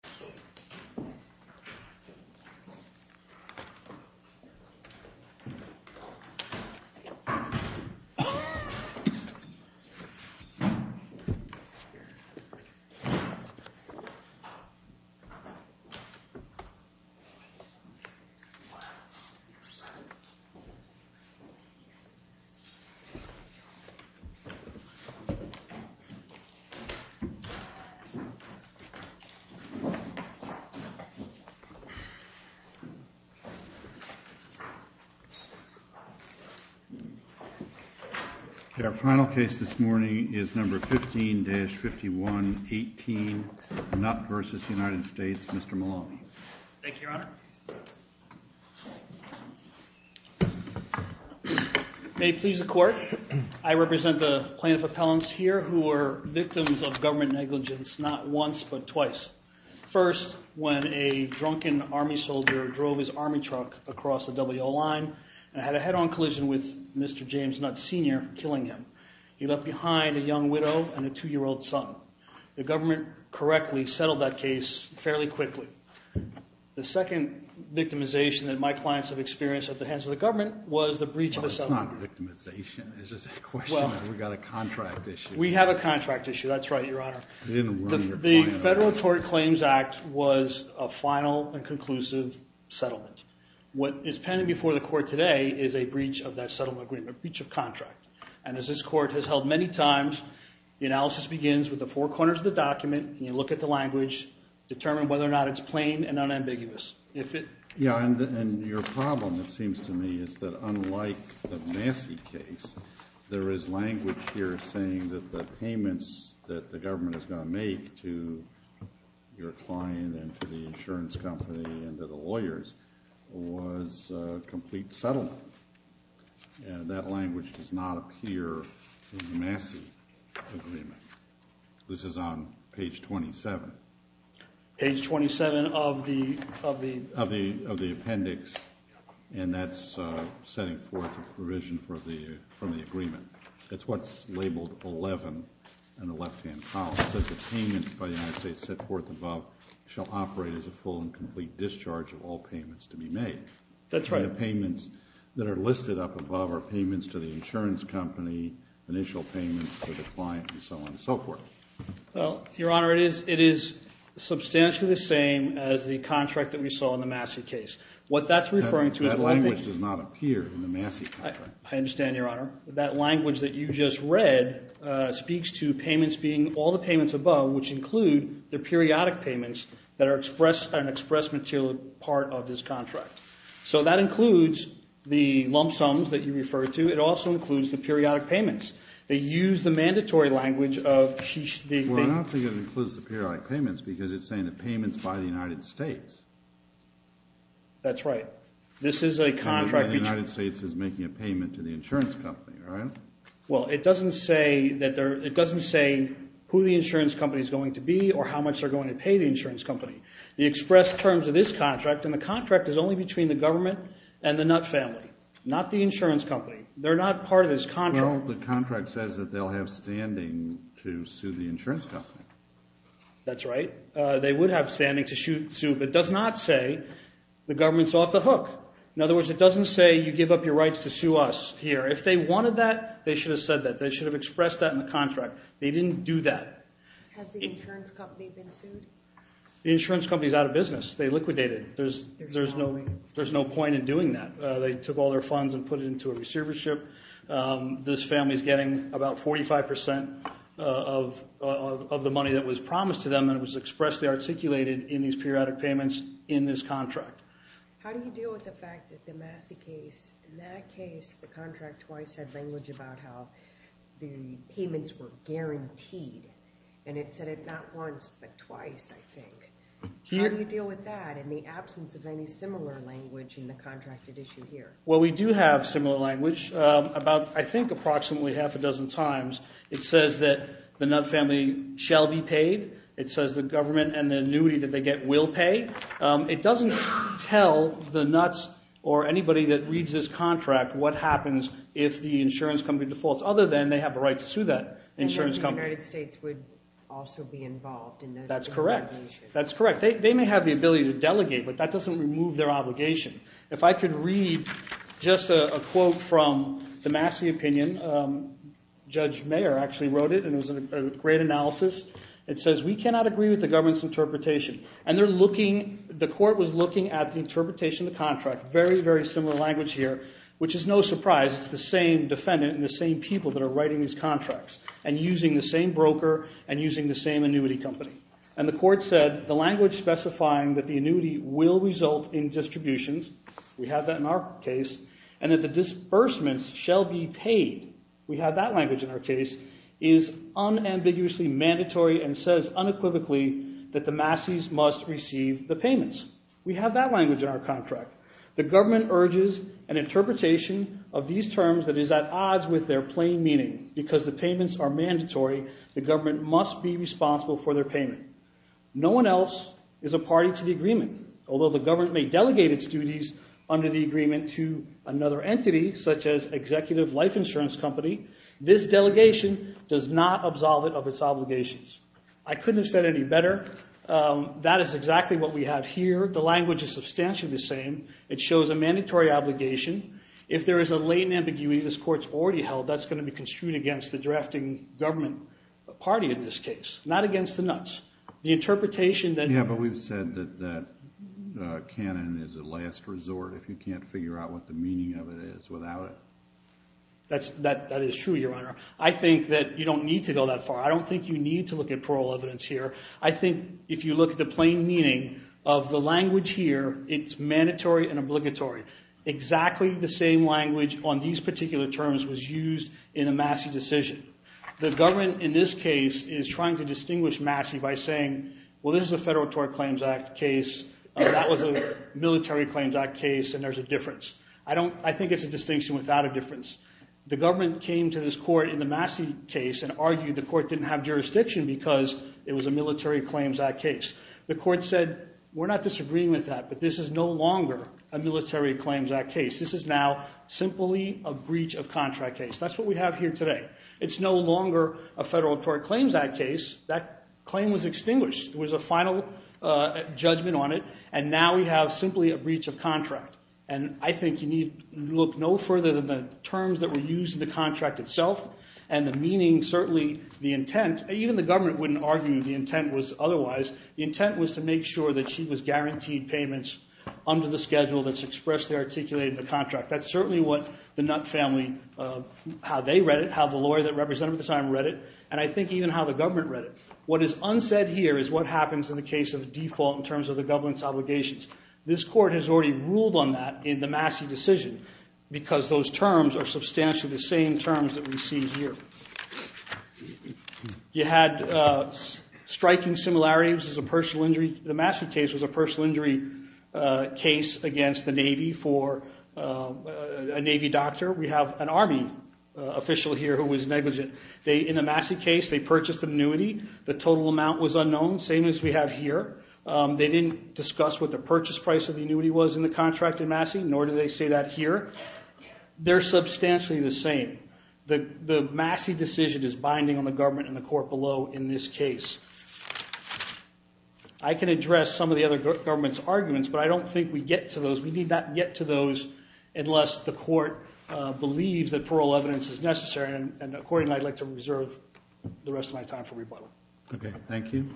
Mr. Maloney. Thank you, Your Honor. May it please the Court, I represent the plaintiff appellants here who were victims of government negligence not once but twice. First, when a drunken army soldier drove his army truck across the W.O. line and had a head-on collision with Mr. James Nutt Sr., killing him. He left behind a young widow and a two-year-old son. The government correctly settled that case fairly quickly. The second victimization that my clients have experienced at the hands of the government was the breach of the settlement agreement. We've got a contract issue. We have a contract issue, that's right, Your Honor. The Federal Tort Claims Act was a final and conclusive settlement. What is pending before the Court today is a breach of that settlement agreement, a breach of contract. And as this Court has held many times, the analysis begins with the four corners of the document, you look at the language, determine whether or not it's plain and unambiguous. Yeah, and your problem, it seems to me, is that unlike the Massey case, there is language here saying that the payments that the government is going to make to your client and to the insurance company and to the lawyers was a complete settlement. That language does not appear in the Massey agreement. This is on page 27. Page 27 of the appendix, and that's setting forth a provision from the agreement. That's what's labeled 11 in the left-hand column. It says the payments by the United States set forth above shall operate as a full and complete discharge of all payments to be made. That's right. The payments that are listed up above are payments to the insurance company, initial payments to the client, and so on and so forth. Well, Your Honor, it is substantially the same as the contract that we saw in the Massey case. What that's referring to is... That language does not appear in the Massey contract. I understand, Your Honor. That language that you just read speaks to payments being all the payments above, which include the periodic payments that are an express material part of this contract. So that includes the lump sums that you referred to. It also includes the periodic payments. They use the mandatory language of... Well, I don't think it includes the periodic payments because it's saying the payments by the United States. That's right. This is a contract... The United States is making a payment to the insurance company, right? Well, it doesn't say who the insurance company is going to be or how much they're going to pay the insurance company. The express terms of this contract, and the contract is only between the government and the Nutt family, not the insurance company. They're not part of this contract. Well, the contract says that they'll have standing to sue the insurance company. That's right. They would have standing to sue, but it does not say the government's off the hook. In other words, it doesn't say you give up your rights to sue us here. If they wanted that, they should have said that. They should have expressed that in the contract. They didn't do that. Has the insurance company been sued? The insurance company's out of business. They liquidated. There's no point in doing that. They took all their funds and put it into a receivership. This family's getting about 45% of the money that was promised to them, and it was expressly articulated in these periodic payments in this contract. How do you deal with the fact that the Massey case, in that case, the contract twice had language about how the payments were guaranteed, and it said it not once, but twice, I think. How do you deal with that, in the absence of any similar language in the contracted issue here? Well, we do have similar language about, I think, approximately half a dozen times. It says that the Nutt family shall be paid. It says the government and the annuity that they get will pay. It doesn't tell the Nuts or anybody that reads this contract what happens if the insurance company defaults, other than they have the right to sue that insurance company. The United States would also be involved in the litigation. That's correct. They may have the ability to delegate, but that doesn't remove their obligation. If I could read just a quote from the Massey opinion, Judge Mayer actually wrote it, and it was a great analysis. It says, we cannot agree with the government's interpretation. And the court was looking at the interpretation of the contract, very, very similar language here, which is no surprise. It's the same defendant and the same people that are writing these contracts, and using the same broker, and using the same annuity company. And the court said, the language specifying that the annuity will result in distributions, we have that in our case, and that the disbursements shall be paid, we have that language in our case, is unambiguously mandatory and says unequivocally that the Masseys must receive the payments. We have that language in our contract. The government urges an interpretation of these terms that is at odds with their plain meaning. Because the payments are mandatory, the government must be responsible for their payment. No one else is a party to the agreement. Although the government may delegate its duties under the agreement to another entity, such as executive life insurance company, this delegation does not absolve it of its obligations. I couldn't have said it any better. That is exactly what we have here. The language is substantially the same. It shows a mandatory obligation. If there is a latent ambiguity this court's already held, that's going to be construed against the drafting government party in this case, not against the nuts. The interpretation that... Yeah, but we've said that canon is a last resort if you can't figure out what the meaning of it is without it. That is true, Your Honor. I think that you don't need to go that far. I don't think you need to look at plural evidence here. I think if you look at the plain meaning of the language here, it's mandatory and obligatory. Exactly the same language on these particular terms was used in the Massey decision. The government in this case is trying to distinguish Massey by saying, well, this is a Federal Tort Claims Act case. That was a Military Claims Act case and there's a difference. I think it's a distinction without a difference. The government came to this court in the Massey case and argued the court didn't have jurisdiction because it was a Military Claims Act case. The court said, we're not disagreeing with that, but this is no longer a Military Claims Act case. This is now simply a breach of contract case. That's what we have here today. It's no longer a Federal Tort Claims Act case. That claim was extinguished. There was a final judgment on it and now we have simply a breach of contract. And I think you need to look no further than the terms that were used in the contract itself and the meaning, certainly the intent. Even the government wouldn't argue the intent was otherwise. The intent was to make sure that she was guaranteed payments under the schedule that's expressly articulated in the contract. That's certainly what the Nutt family, how they read it, how the lawyer that represented them at the time read it, and I think even how the government read it. What is unsaid here is what happens in the case of default in terms of the government's obligations. This court has already ruled on that in the Massey decision because those terms are substantially the same terms that we see here. You had striking similarities as a personal injury. The Massey case was a personal injury case against the Navy for a Navy doctor. We have an Army official here who was negligent. In the Massey case, they purchased an annuity. The total amount was unknown, same as we have here. They didn't discuss what the purchase price of the annuity was in the contract in Massey, nor did they say that here. They're substantially the same. The Massey decision is binding on the government and the court below in this case. I can address some of the other government's arguments, but I don't think we get to those. We need not get to those unless the court believes that plural evidence is necessary, and according to that, I'd like to reserve the rest of my time for rebuttal. Okay, thank you.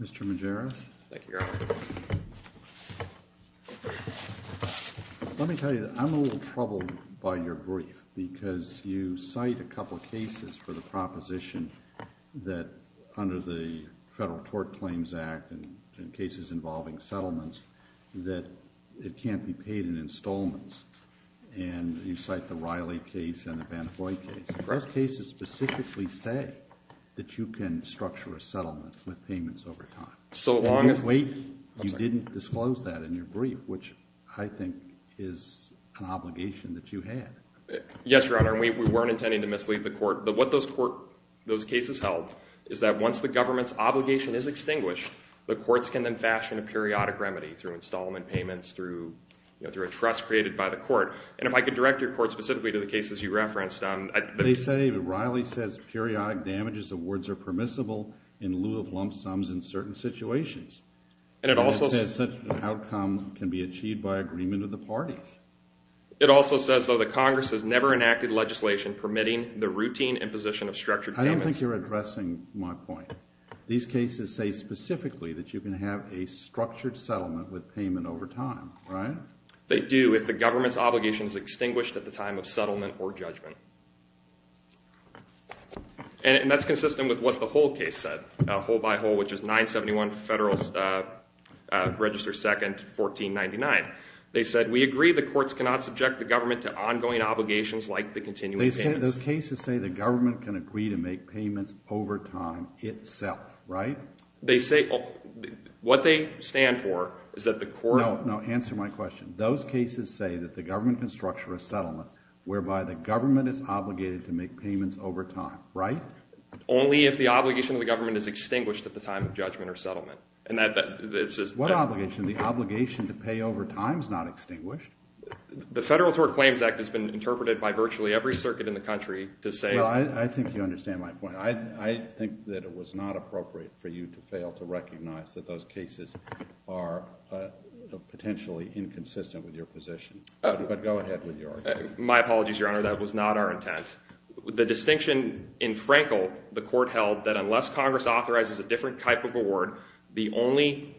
Mr. Majerus? Thank you, Your Honor. Let me tell you, I'm a little troubled by your brief because you cite a couple of cases for the proposition that under the Federal Tort Claims Act and cases involving settlements that it can't be paid in installments, and you cite the Riley case and the Vantafoy case. Those cases specifically say that you can structure a settlement with payments over time. So long as we... You didn't disclose that in your brief, which I think is an obligation that you had. Yes, Your Honor, and we weren't intending to mislead the court. What those cases held is that once the government's obligation is extinguished, the courts can then fashion a periodic remedy through installment payments, through a trust created by the court, and if I could direct your court specifically to the cases you referenced. They say Riley says periodic damages of words are permissible in lieu of lump sums in certain situations. And it also says such an outcome can be achieved by agreement of the parties. It also says, though, that Congress has never enacted legislation permitting the routine imposition of structured payments. I don't think you're addressing my point. These cases say specifically that you can have a structured settlement with payment over time, right? They do if the government's obligation is extinguished at the time of settlement or judgment. And that's consistent with what the Hull case said, Hull by Hull, which is 971 Federal Register 2nd, 1499. They said, we agree the courts cannot subject the government to ongoing obligations like the continuing payments. Those cases say the government can agree to make payments over time itself, right? They say what they stand for is that the court. No, answer my question. Those cases say that the government can structure a settlement whereby the government is obligated to make payments over time, right? Only if the obligation of the government is extinguished at the time of judgment or settlement. What obligation? The obligation to pay over time is not extinguished. The Federal Tort Claims Act has been interpreted by virtually every circuit in the country to say. Well, I think you understand my point. I think that it was not appropriate for you to fail to recognize that those cases are potentially inconsistent with your position. But go ahead with your argument. My apologies, Your Honor. That was not our intent. The distinction in Frankel the court held that unless Congress authorizes a different type of award, the only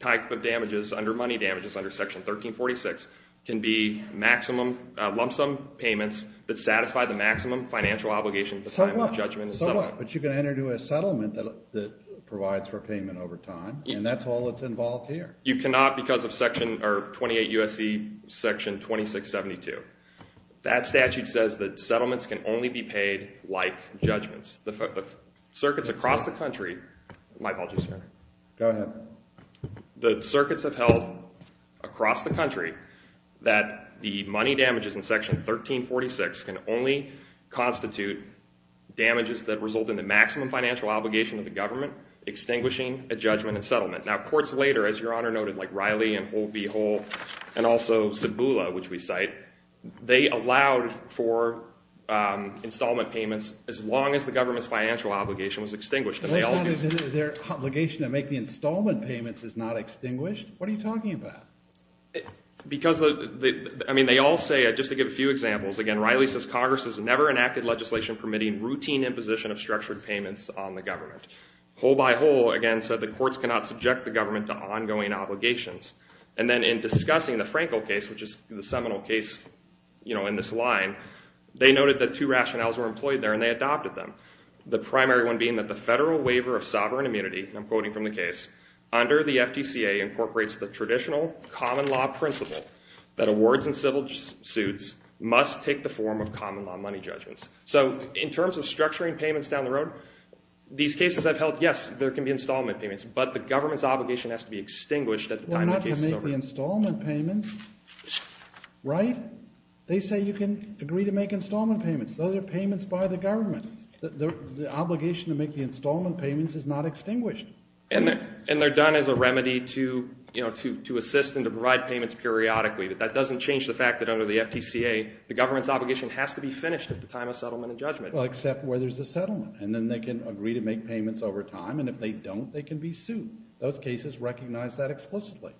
type of damages under money damages under Section 1346 can be lump sum payments that satisfy the maximum financial obligation at the time of judgment and settlement. But you can enter into a settlement that provides for payment over time, and that's all that's involved here. You cannot because of 28 U.S.C. Section 2672. That statute says that settlements can only be paid like judgments. The circuits across the country. My apologies, Your Honor. Go ahead. The circuits have held across the country that the money damages in Section 1346 can only constitute damages that result in the maximum financial obligation of the government extinguishing a judgment and settlement. Now, courts later, as Your Honor noted, like Riley and Hole v. Hole, and also Cibula, which we cite, they allowed for installment payments as long as the government's financial obligation was extinguished. Their obligation to make the installment payments is not extinguished? What are you talking about? Because they all say, just to give a few examples, again, Riley says, Congress has never enacted legislation permitting routine imposition of structured payments on the government. Hole v. Hole, again, said the courts cannot subject the government to ongoing obligations. And then in discussing the Frankel case, which is the seminal case in this line, they noted that two rationales were employed there, and they adopted them, the primary one being that the Federal Waiver of Sovereign Immunity, and I'm quoting from the case, under the FTCA incorporates the traditional common law principle that awards and civil suits must take the form of common law money judgments. So in terms of structuring payments down the road, these cases I've held, yes, there can be installment payments, but the government's obligation has to be extinguished at the time the case is over. Well, not to make the installment payments, right? They say you can agree to make installment payments. Those are payments by the government. The obligation to make the installment payments is not extinguished. And they're done as a remedy to assist and to provide payments periodically, but that doesn't change the fact that under the FTCA the government's obligation has to be finished at the time of settlement and judgment. Well, except where there's a settlement, and then they can agree to make payments over time, and if they don't, they can be sued. Those cases recognize that explicitly.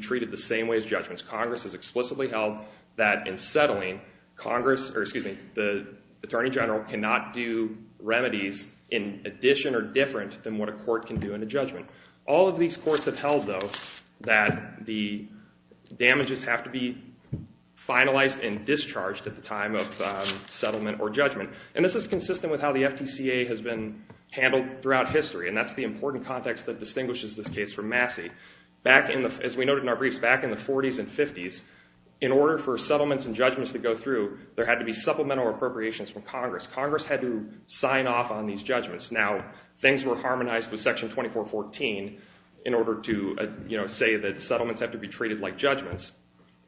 Treated the same way as judgments. Congress has explicitly held that in settling, Congress, or excuse me, the Attorney General cannot do remedies in addition or different than what a court can do in a judgment. All of these courts have held, though, that the damages have to be finalized and discharged at the time of settlement or judgment. And this is consistent with how the FTCA has been handled throughout history, and that's the important context that distinguishes this case from Massey. As we noted in our briefs, back in the 40s and 50s, in order for settlements and judgments to go through, there had to be supplemental appropriations from Congress. Congress had to sign off on these judgments. Now, things were harmonized with Section 2414 in order to say that settlements have to be treated like judgments.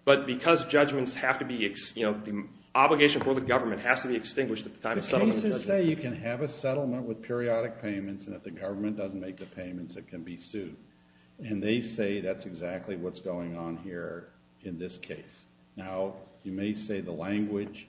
But because judgments have to be, you know, the obligation for the government has to be extinguished at the time of settlement and judgment. The cases say you can have a settlement with periodic payments, and if the government doesn't make the payments, it can be sued. And they say that's exactly what's going on here in this case. Now, you may say the language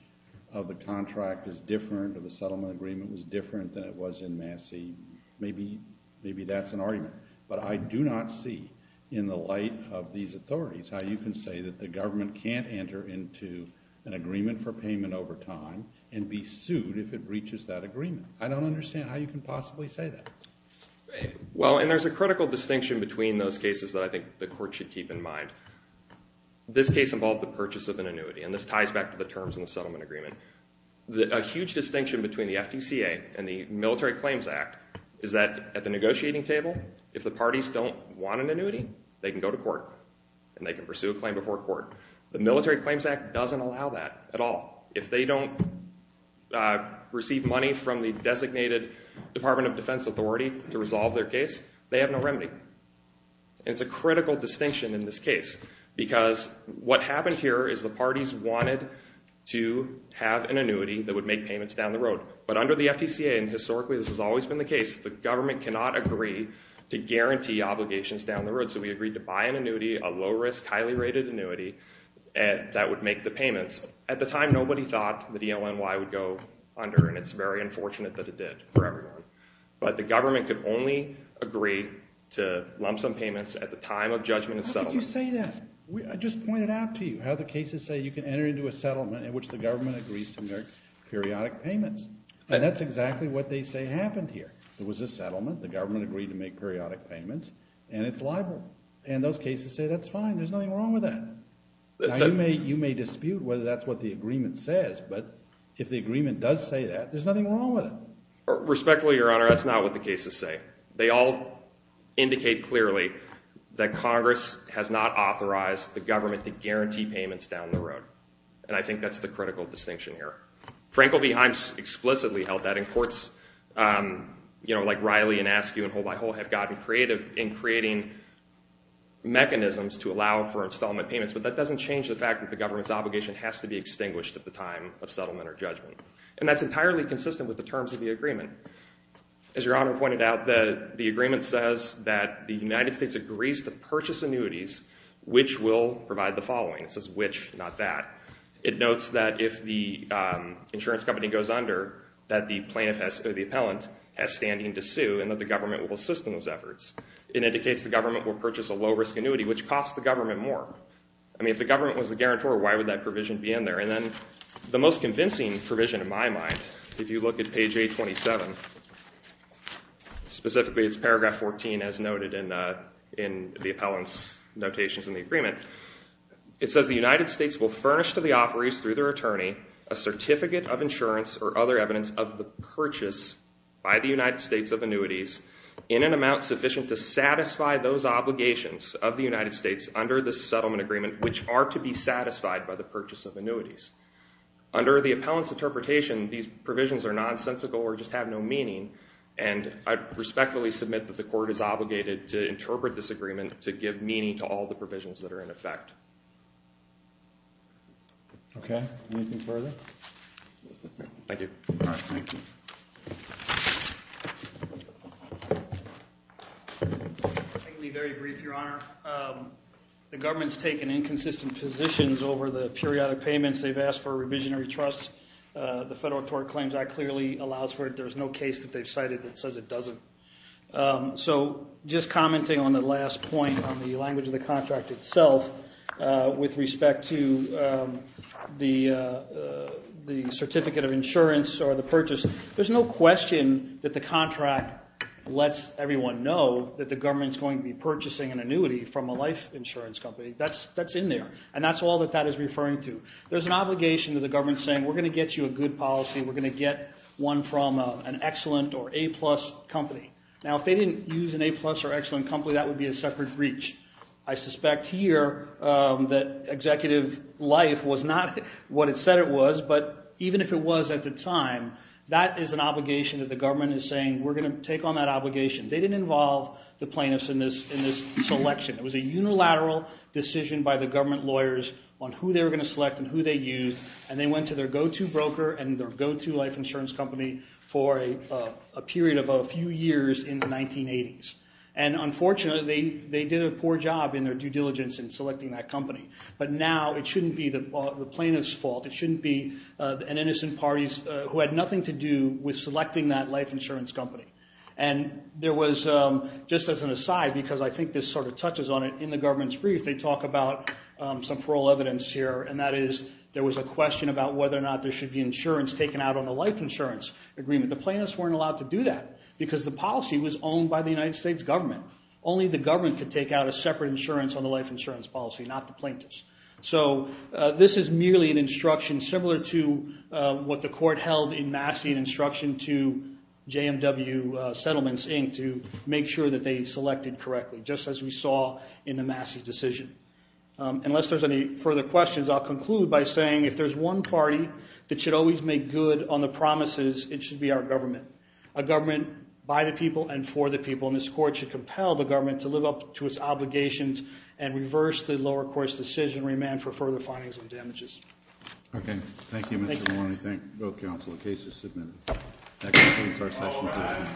of the contract is different or the settlement agreement was different than it was in Massey. Maybe that's an argument. But I do not see, in the light of these authorities, how you can say that the government can't enter into an agreement for payment over time and be sued if it breaches that agreement. I don't understand how you can possibly say that. Well, and there's a critical distinction between those cases that I think the court should keep in mind. This case involved the purchase of an annuity, and this ties back to the terms in the settlement agreement. A huge distinction between the FDCA and the Military Claims Act is that at the negotiating table, if the parties don't want an annuity, they can go to court and they can pursue a claim before court. The Military Claims Act doesn't allow that at all. If they don't receive money from the designated Department of Defense authority to resolve their case, they have no remedy. And it's a critical distinction in this case because what happened here is the parties wanted to have an annuity that would make payments down the road. But under the FDCA, and historically this has always been the case, the government cannot agree to guarantee obligations down the road. So we agreed to buy an annuity, a low-risk, highly-rated annuity, that would make the payments. At the time, nobody thought the DONY would go under, and it's very unfortunate that it did for everyone. But the government could only agree to lump sum payments at the time of judgment of settlement. How could you say that? I just pointed out to you how the cases say you can enter into a settlement in which the government agrees to make periodic payments. And that's exactly what they say happened here. There was a settlement, the government agreed to make periodic payments, and it's liable. And those cases say that's fine, there's nothing wrong with that. You may dispute whether that's what the agreement says, but if the agreement does say that, there's nothing wrong with it. Respectfully, Your Honor, that's not what the cases say. They all indicate clearly that Congress has not authorized the government to guarantee payments down the road. And I think that's the critical distinction here. Frankl v. Himes explicitly held that, and courts like Riley and Askew and Hole by Hole have gotten creative in creating mechanisms to allow for installment payments, but that doesn't change the fact that the government's obligation has to be extinguished at the time of settlement or judgment. And that's entirely consistent with the terms of the agreement. As Your Honor pointed out, the agreement says that the United States agrees to purchase annuities which will provide the following. It says which, not that. It notes that if the insurance company goes under, that the plaintiff or the appellant has standing to sue and that the government will assist in those efforts. It indicates the government will purchase a low-risk annuity, which costs the government more. I mean, if the government was the guarantor, why would that provision be in there? And then the most convincing provision, in my mind, if you look at page 827, specifically it's paragraph 14, as noted in the appellant's notations in the agreement, it says the United States will furnish to the offerees through their attorney a certificate of insurance or other evidence of the purchase by the United States of annuities in an amount sufficient to satisfy those obligations of the United States under this settlement agreement, which are to be satisfied by the purchase of annuities. Under the appellant's interpretation, these provisions are nonsensical or just have no meaning, and I respectfully submit that the court is obligated to interpret this agreement to give meaning to all the provisions that are in effect. Okay. Anything further? Thank you. I'll be very brief, Your Honor. The government's taken inconsistent positions over the periodic payments. They've asked for a revisionary trust. The Federal Tort Claims Act clearly allows for it. There's no case that they've cited that says it doesn't. So just commenting on the last point on the language of the contract itself, with respect to the certificate of insurance or the purchase, there's no question that the contract lets everyone know that the government's going to be purchasing an annuity from a life insurance company. That's in there, and that's all that that is referring to. There's an obligation to the government saying, we're going to get you a good policy, we're going to get one from an excellent or A-plus company. Now, if they didn't use an A-plus or excellent company, that would be a separate breach. I suspect here that executive life was not what it said it was, but even if it was at the time, that is an obligation that the government is saying, we're going to take on that obligation. They didn't involve the plaintiffs in this selection. It was a unilateral decision by the government lawyers on who they were going to select and who they used, and they went to their go-to broker and their go-to life insurance company for a period of a few years in the 1980s. And unfortunately, they did a poor job in their due diligence in selecting that company. But now it shouldn't be the plaintiff's fault, it shouldn't be an innocent party who had nothing to do with selecting that life insurance company. And there was, just as an aside, because I think this sort of touches on it in the government's brief, they talk about some parole evidence here, and that is there was a question about whether or not there should be insurance taken out on the life insurance agreement. The plaintiffs weren't allowed to do that because the policy was owned by the United States government. Only the government could take out a separate insurance on the life insurance policy, not the plaintiffs. So this is merely an instruction similar to what the court held in Massey, an instruction to JMW Settlements, Inc., to make sure that they selected correctly, just as we saw in the Massey decision. Unless there's any further questions, I'll conclude by saying if there's one party that should always make good on the promises, it should be our government. A government by the people and for the people. And this court should compel the government to live up to its obligations and reverse the lower court's decision and remand for further findings on damages. Okay. Thank you, Mr. Maloney. Thank you, both counsel. The case is submitted. That concludes our session.